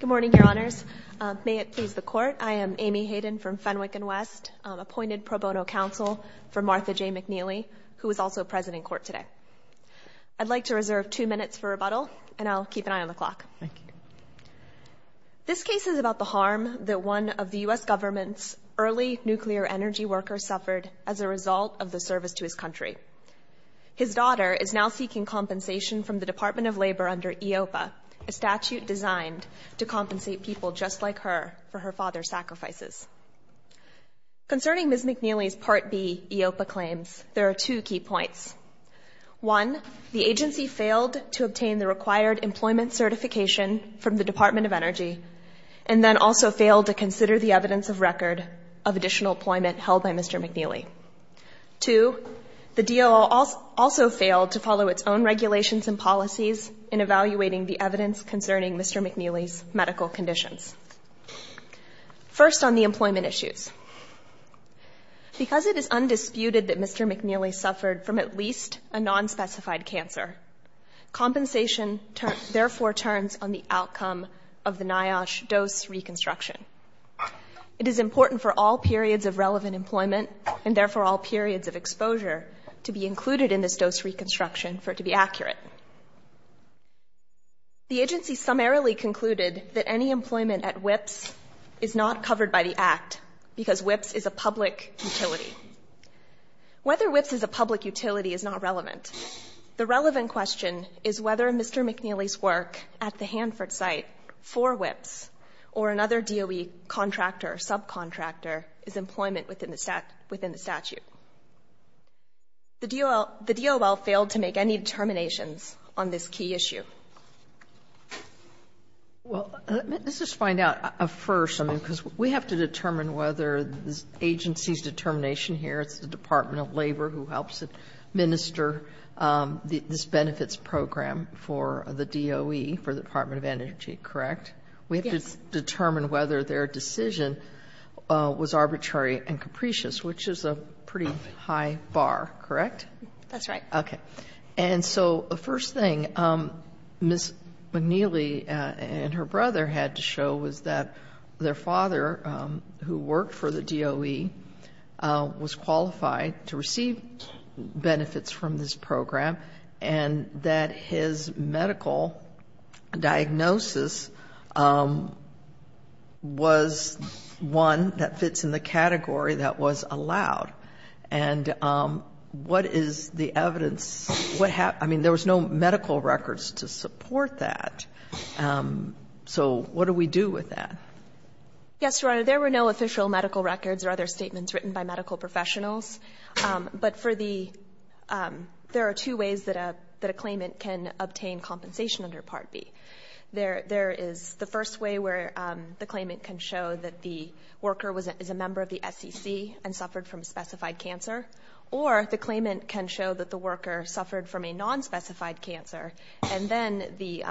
Good morning, Your Honors. May it please the Court, I am Amy Hayden from Fenwick and West, appointed pro bono counsel for Martha J. McNeely, who is also present in court today. I'd like to reserve two minutes for rebuttal, and I'll keep an eye on the clock. This case is about the harm that one of the U.S. government's early nuclear energy workers suffered as a result of the service to his country. His daughter is now seeking compensation from the Department of Labor under EOPA, a statute designed to compensate people just like her for her father's sacrifices. Concerning Ms. McNeely's Part B EOPA claims, there are two key points. One, the agency failed to obtain the required employment certification from the Department of Energy, and then also failed to consider the evidence of record of additional employment held by Mr. McNeely. Two, the DOO also failed to follow its own regulations and policies in evaluating the evidence concerning Mr. McNeely's medical conditions. First, on the employment issues. Because it is undisputed that Mr. McNeely suffered from at least a nonspecified cancer, compensation therefore turns on the outcome of the NIOSH dose reconstruction. It is important for all periods of relevant employment, and therefore all periods of exposure, to be included in this dose reconstruction for it to be accurate. The agency summarily concluded that any employment at WIPS is not covered by the Act because WIPS is a public utility. Whether WIPS is a public utility is not relevant. The relevant question is whether Mr. McNeely's work at the Hanford site for WIPS or another DOE contractor or subcontractor is employment within the statute. The DOL failed to make any determinations on this key issue. Well, let's just find out first, I mean, because we have to determine whether this agency's determination here, it's the Department of Labor who helps administer this benefits program for the DOE, for the Department of Energy, correct? Yes. We have to determine whether their decision was arbitrary and capricious, which is a pretty high bar, correct? That's right. Okay. And so the first thing Ms. McNeely and her brother had to show was that their father, who worked for the DOE, was qualified to receive benefits from this program and that his medical diagnosis was one that fits in the category that was allowed. And what is the evidence? What happened? I mean, there was no medical records to support that. So what do we do with that? Yes, Your Honor. There were no official medical records or other statements written by medical professionals. But for the — there are two ways that a claimant can obtain compensation under Part B. There is the first way where the claimant can show that the worker is a member of the SEC and suffered from specified cancer, or the claimant can show that the worker suffered from a nonspecified cancer, and then the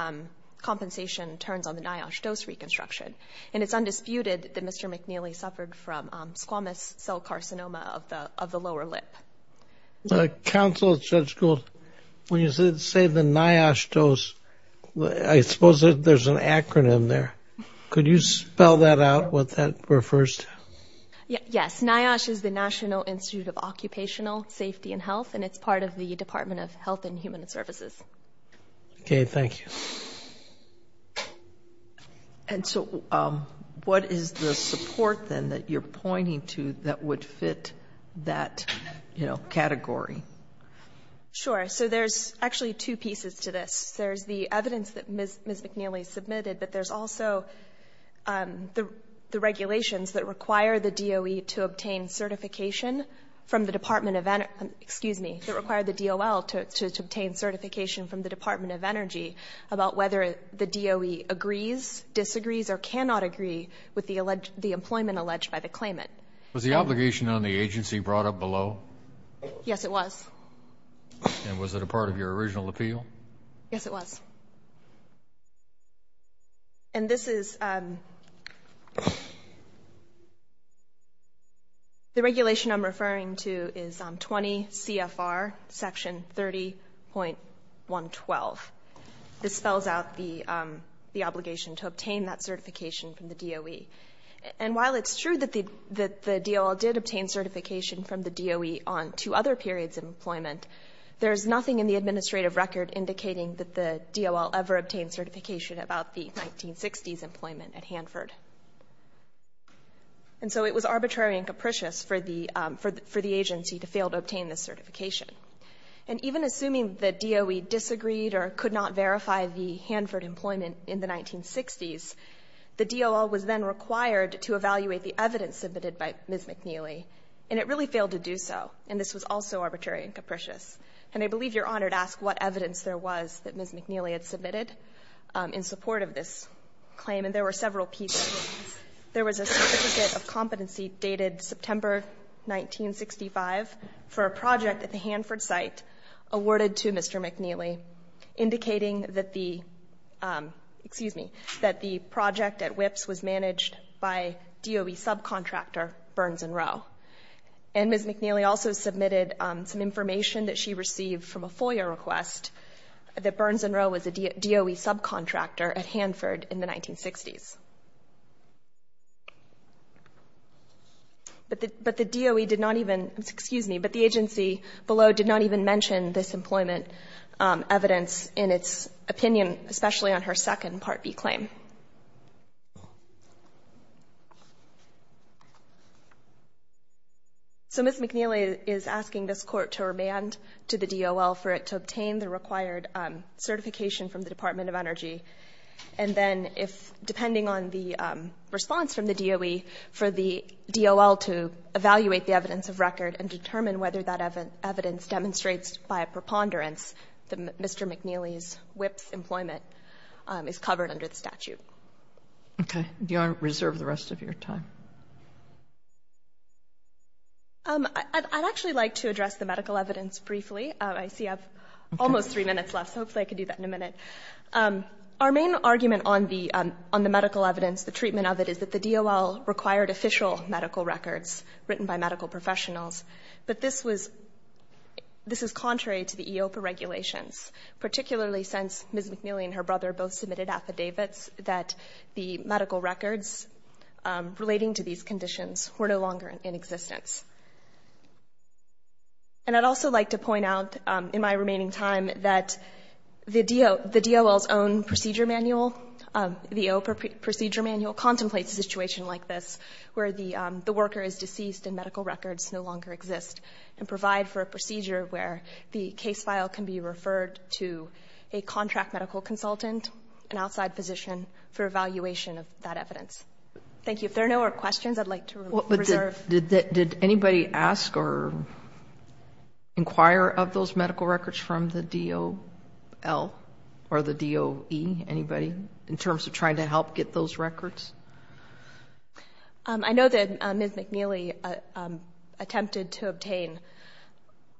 compensation turns on the NIOSH dose reconstruction. And it's undisputed that Mr. McNeely suffered from squamous cell carcinoma of the lower lip. Counsel, Judge Gould, when you say the NIOSH dose, I suppose there's an acronym there. Could you spell that out, what that refers to? Yes. NIOSH is the National Institute of Occupational Safety and Health, and it's part of the Department of Health and Human Services. Okay. Thank you. And so what is the support, then, that you're pointing to that would fit that, you know, category? Sure. So there's actually two pieces to this. There's the evidence that Ms. McNeely submitted, but there's also the regulations that require the DOE to obtain certification from the Department of — whether the DOE agrees, disagrees, or cannot agree with the employment alleged by the claimant. Was the obligation on the agency brought up below? Yes, it was. And was it a part of your original appeal? Yes, it was. And this is — the regulation I'm referring to is 20 CFR, Section 30.112. This spells out the obligation to obtain that certification from the DOE. And while it's true that the DOL did obtain certification from the DOE on two other periods of employment, there is nothing in the administrative record indicating that the DOL ever obtained certification about the 1960s employment at Hanford. And so it was arbitrary and capricious for the agency to fail to obtain this certification. And even assuming the DOE disagreed or could not verify the Hanford employment in the 1960s, the DOL was then required to evaluate the evidence submitted by Ms. McNeely. And it really failed to do so. And this was also arbitrary and capricious. And I believe you're honored to ask what evidence there was that Ms. McNeely had submitted in support of this claim. And there were several pieces. There was a certificate of competency dated September 1965 for a project at the Hanford site awarded to Mr. McNeely, indicating that the — excuse me — that the project at WIPS was managed by DOE subcontractor Burns and Rowe. And Ms. McNeely also submitted some information that she received from a FOIA request, that Burns and Rowe was a DOE subcontractor at Hanford in the 1960s. But the DOE did not even — excuse me — but the agency below did not even mention this employment evidence in its opinion, especially on her second Part B claim. So Ms. McNeely is asking this Court to remand to the DOL for it to obtain the required certification from the Department of Energy. And then if, depending on the response from the DOE, for the DOL to evaluate the evidence of record and determine whether that evidence demonstrates by a preponderance that Mr. McNeely's WIPS employment is covered under the statute. Sotomayor, do you want to reserve the rest of your time? I'd actually like to address the medical evidence briefly. I see I have almost three minutes left, so hopefully I can do that in a minute. Our main argument on the medical evidence, the treatment of it, is that the DOL required official medical records written by medical professionals. But this was — this is contrary to the EOPA regulations, particularly since Ms. McNeely and her brother both submitted affidavits that the medical records relating to these conditions were no longer in existence. And I'd also like to point out in my remaining time that the DOL's own procedure manual, the EOPA procedure manual, contemplates a situation like this where the worker is deceased and medical records no longer exist, and provide for a procedure where the case file can be referred to a contract medical consultant, an outside physician, for evaluation of that evidence. Thank you. If there are no more questions, I'd like to reserve. Did anybody ask or inquire of those medical records from the DOL or the DOE, anybody, in terms of trying to help get those records? I know that Ms. McNeely attempted to obtain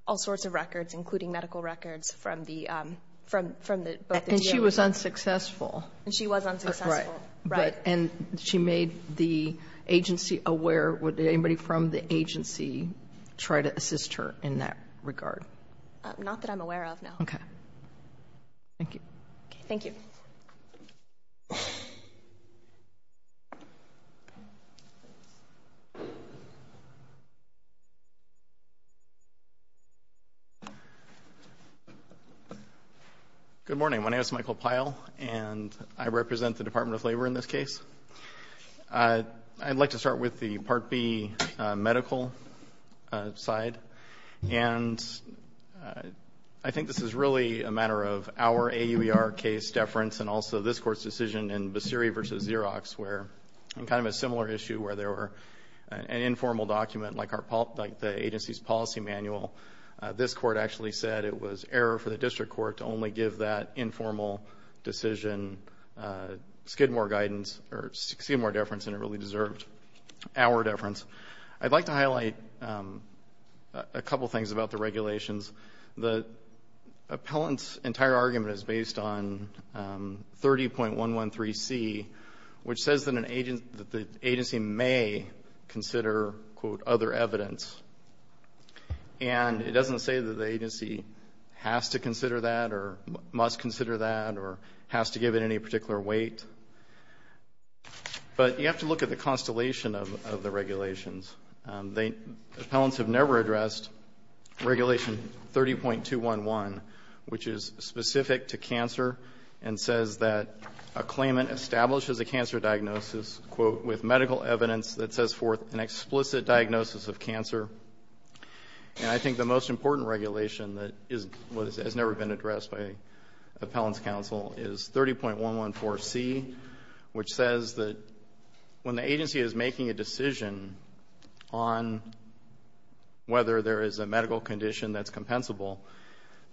all sorts of records, including medical records, from the — from the DOE. And she was unsuccessful. And she was unsuccessful. Right. Right. And she made the agency aware. Would anybody from the agency try to assist her in that regard? Not that I'm aware of, no. Okay. Thank you. Thank you. Thank you. Good morning. My name is Michael Pyle, and I represent the Department of Labor in this case. I'd like to start with the Part B medical side. And I think this is really a matter of our AUER case deference and also this Court's decision in Basiri v. Xerox, where — in kind of a similar issue where there were an informal document, like our — like the agency's policy manual. This Court actually said it was error for the district court to only give that informal decision skid more guidance or succeed more deference, and it really deserved our deference. I'd like to highlight a couple things about the regulations. The appellant's entire argument is based on 30.113C, which says that an — that the agency may consider, quote, other evidence. And it doesn't say that the agency has to consider that or must consider that or has to give it any particular weight. But you have to look at the constellation of the regulations. They — appellants have never addressed Regulation 30.211, which is specific to cancer and says that a claimant establishes a cancer diagnosis, quote, with medical evidence that says forth an explicit diagnosis of cancer. And I think the most important regulation that is — has never been addressed by the agency, which says that when the agency is making a decision on whether there is a medical condition that's compensable,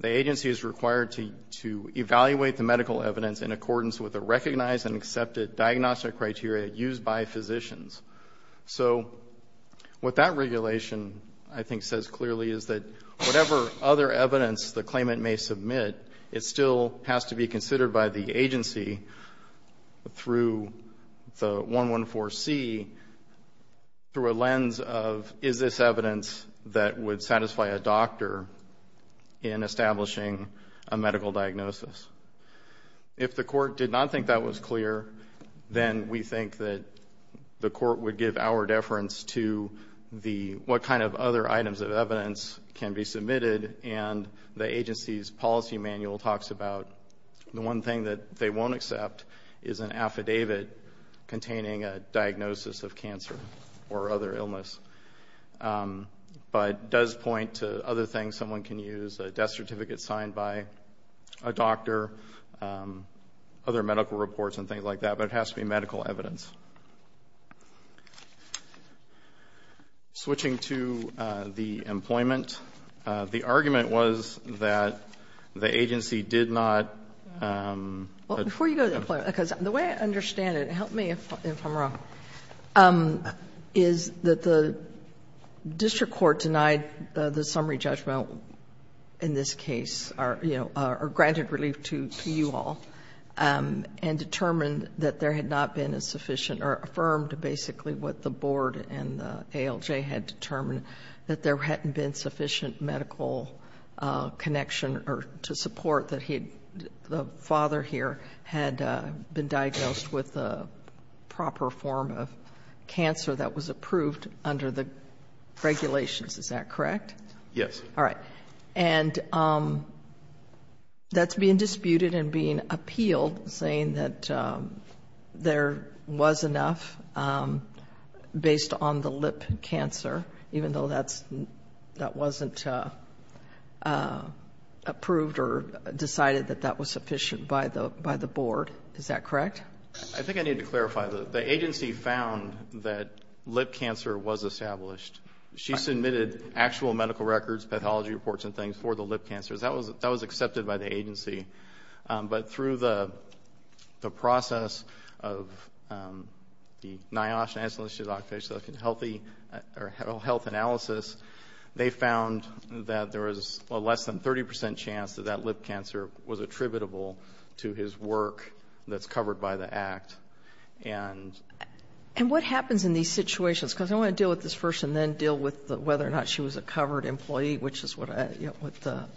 the agency is required to evaluate the medical evidence in accordance with a recognized and accepted diagnostic criteria used by physicians. So what that regulation, I think, says clearly is that whatever other evidence the agency, through the 114C, through a lens of is this evidence that would satisfy a doctor in establishing a medical diagnosis. If the court did not think that was clear, then we think that the court would give our deference to the — what kind of other items of evidence can be submitted. And the agency's policy manual talks about the one thing that they won't accept is an affidavit containing a diagnosis of cancer or other illness. But it does point to other things someone can use, a death certificate signed by a doctor, other medical reports and things like that. But it has to be medical evidence. Switching to the employment. The argument was that the agency did not — Well, before you go to employment, because the way I understand it, help me if I'm wrong, is that the district court denied the summary judgment in this case, you know, or granted relief to you all, and determined that there had not been a sufficient or affirmed basically what the board and the ALJ had determined, that there hadn't been sufficient medical connection or to support that the father here had been diagnosed with the proper form of cancer that was approved under the regulations. Is that correct? Yes. All right. And that's being disputed and being appealed, saying that there was enough based on the lip cancer, even though that wasn't approved or decided that that was sufficient by the board. Is that correct? I think I need to clarify. The agency found that lip cancer was established. She submitted actual medical records, pathology reports and things for the lip cancers. That was accepted by the agency. But through the process of the NIOSH, National Institute of Occupational Health Analysis, they found that there was a less than 30 percent chance that that lip cancer was attributable And what happens in these situations? Because I want to deal with this first and then deal with whether or not she was a covered employee, which is what the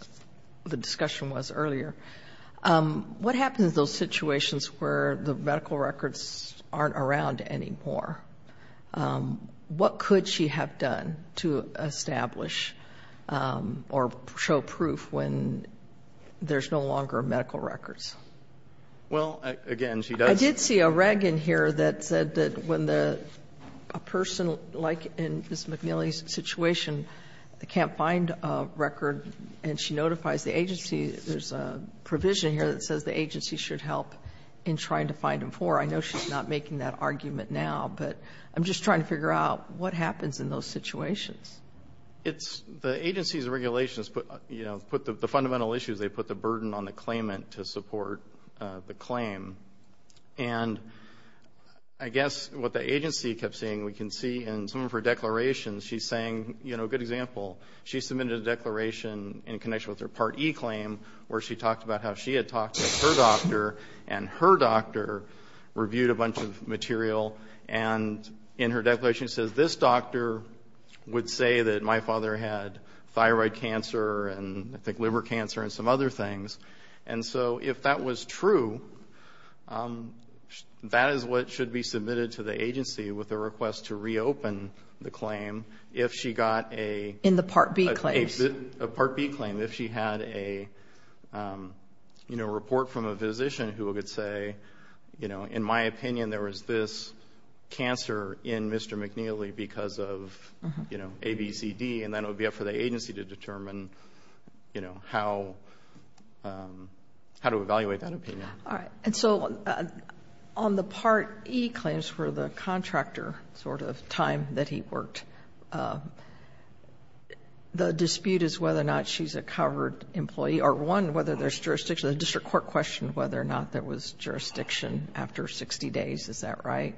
discussion was earlier. What happens in those situations where the medical records aren't around anymore? What could she have done to establish or show proof when there's no longer medical records? Well, again, she does I did see a reg in here that said that when a person like in Ms. McNeely's situation can't find a record and she notifies the agency, there's a provision here that says the agency should help in trying to find them for her. I know she's not making that argument now, but I'm just trying to figure out what happens in those situations. The agency's regulations put the fundamental issues, they put the burden on the claimant to support the claim. And I guess what the agency kept seeing, we can see in some of her declarations, she's saying, you know, a good example, she submitted a declaration in connection with her Part E claim where she talked about how she had talked to her doctor and her doctor reviewed a bunch of material and in her declaration says, this doctor would say that my father had thyroid cancer and I think liver cancer and some other things. And so if that was true, that is what should be submitted to the agency with a request to reopen the claim if she got a In the Part B claims. A Part B claim, if she had a, you know, report from a physician who would say, you know, in my opinion there was this cancer in Mr. McNeely because of, you know, ABCD And then it would be up for the agency to determine, you know, how to evaluate that opinion. All right. And so on the Part E claims for the contractor sort of time that he worked, the dispute is whether or not she's a covered employee or one, whether there's jurisdiction. The district court questioned whether or not there was jurisdiction after 60 days. Is that right?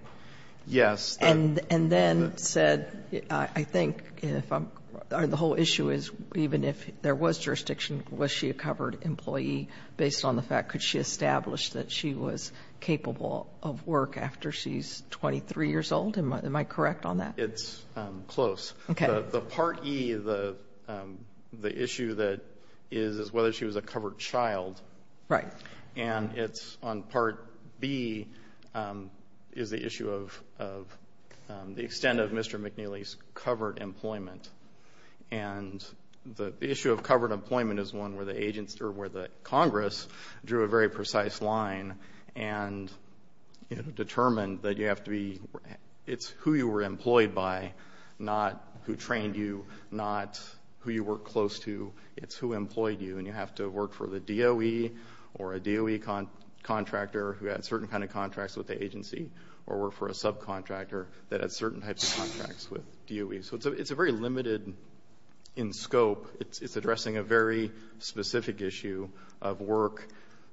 Yes. And then said, I think if I'm the whole issue is even if there was jurisdiction, was she a covered employee based on the fact could she establish that she was capable of work after she's 23 years old? Am I correct on that? It's close. Okay. The Part E, the issue that is whether she was a covered child. Right. And it's on Part B is the issue of the extent of Mr. McNeely's covered employment. And the issue of covered employment is one where the agents or where the Congress drew a very precise line and determined that you have to be, it's who you were employed by, not who trained you, not who you were close to. It's who employed you. And you have to work for the DOE or a DOE contractor who had certain kind of contracts with the agency or work for a subcontractor that had certain types of contracts with DOE. So it's a very limited in scope. It's addressing a very specific issue of work,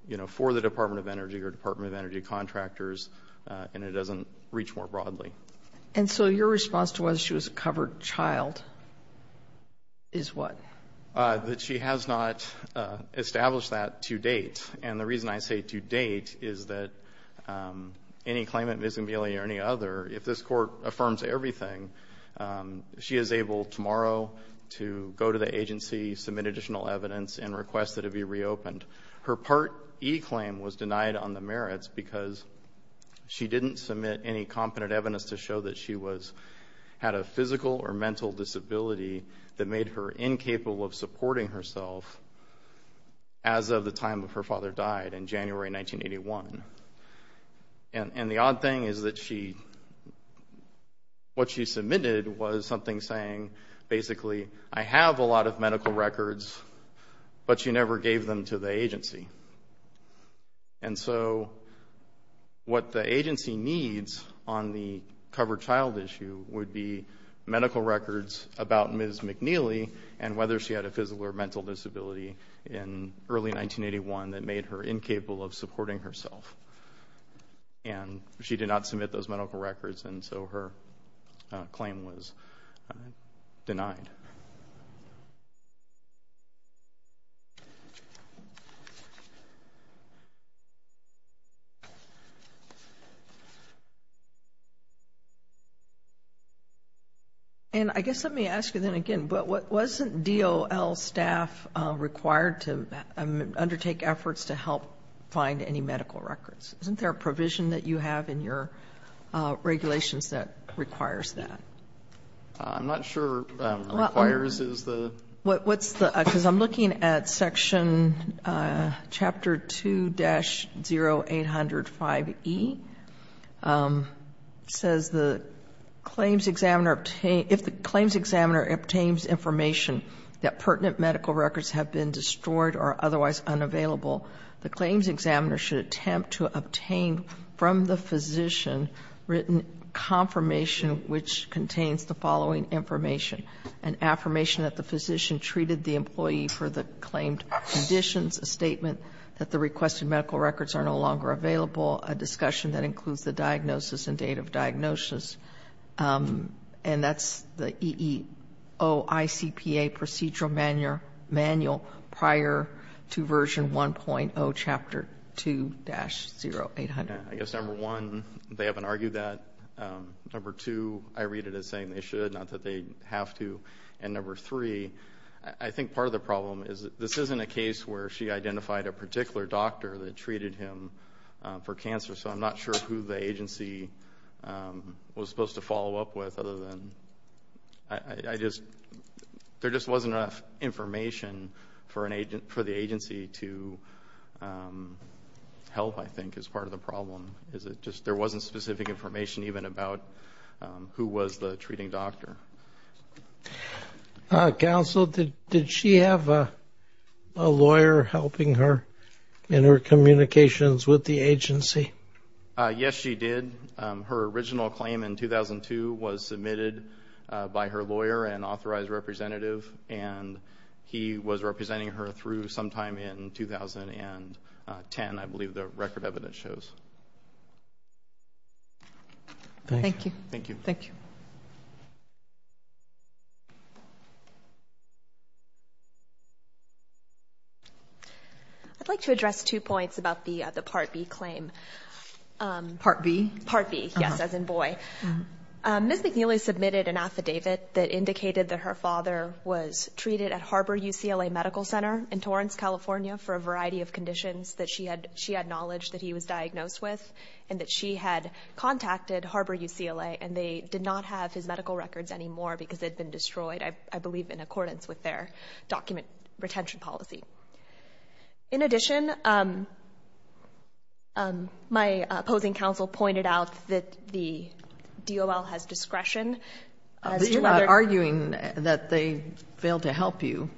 you know, for the Department of Energy or Department of Energy contractors, and it doesn't reach more broadly. And so your response to whether she was a covered child is what? That she has not established that to date. And the reason I say to date is that any claimant, Ms. McNeely or any other, if this Court affirms everything, she is able tomorrow to go to the agency, submit additional evidence, and request that it be reopened. Her Part E claim was denied on the merits because she didn't submit any competent evidence to show that she had a physical or mental disability that made her incapable of supporting herself as of the time of her father died in January 1981. And the odd thing is that what she submitted was something saying basically, I have a lot of medical records, but she never gave them to the agency. And so what the agency needs on the covered child issue would be medical records about Ms. McNeely and whether she had a physical or mental disability in early 1981 that made her incapable of supporting herself. And she did not submit those medical records, and so her claim was denied. And I guess let me ask you then again, but wasn't DOL staff required to undertake efforts to help find any medical records? Isn't there a provision that you have in your regulations that requires that? I'm not sure. Requires is the? What's the other? Because I'm looking at Section Chapter 2-0805E. It says the claims examiner, if the claims examiner obtains information that pertinent medical records have been destroyed or otherwise unavailable, the claims examiner should attempt to obtain from the physician written confirmation which contains the following information. An affirmation that the physician treated the employee for the claimed conditions, a statement that the requested medical records are no longer available, a discussion that includes the diagnosis and date of diagnosis. And that's the EEOICPA procedural manual prior to Version 1.0, Chapter 2-0800. I guess number one, they haven't argued that. Number two, I read it as saying they should, not that they have to. And number three, I think part of the problem is this isn't a case where she identified a particular doctor that treated him for cancer, so I'm not sure who the agency was supposed to follow up with other than I just, there just wasn't enough information for the agency to help, I think, is part of the problem. There wasn't specific information even about who was the treating doctor. Counsel, did she have a lawyer helping her in her communications with the agency? Yes, she did. Her original claim in 2002 was submitted by her lawyer, an authorized representative, and he was representing her through sometime in 2010, I believe the record evidence shows. Thank you. Thank you. Thank you. Thank you. I'd like to address two points about the Part B claim. Part B? Part B, yes, as in boy. Ms. McNeely submitted an affidavit that indicated that her father was treated at Harbor UCLA Medical Center in Torrance, California for a variety of conditions that she had knowledge that he was diagnosed with and that she had contacted Harbor UCLA and they did not have his medical records anymore because they'd been destroyed, I believe, in accordance with their document retention policy. In addition, my opposing counsel pointed out that the DOL has discretion. You're not arguing that they failed to help you.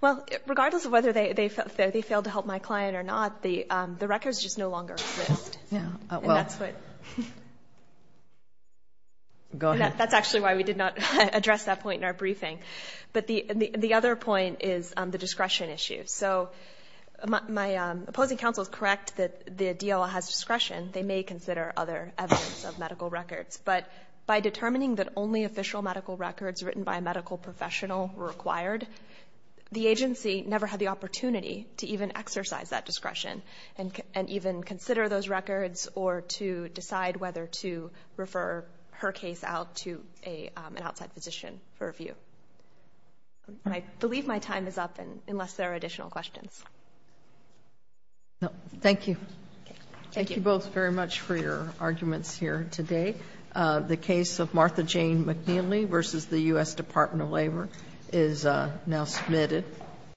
Well, regardless of whether they failed to help my client or not, the records just no longer exist. Yeah, well, go ahead. That's actually why we did not address that point in our briefing. But the other point is the discretion issue. So my opposing counsel is correct that the DOL has discretion. They may consider other evidence of medical records. But by determining that only official medical records written by a medical professional were required, the agency never had the opportunity to even exercise that discretion and even consider those records or to decide whether to refer her case out to an outside physician for review. I believe my time is up, unless there are additional questions. Thank you. Thank you both very much for your arguments here today. The case of Martha Jane McNeely v. The U.S. Department of Labor is now submitted.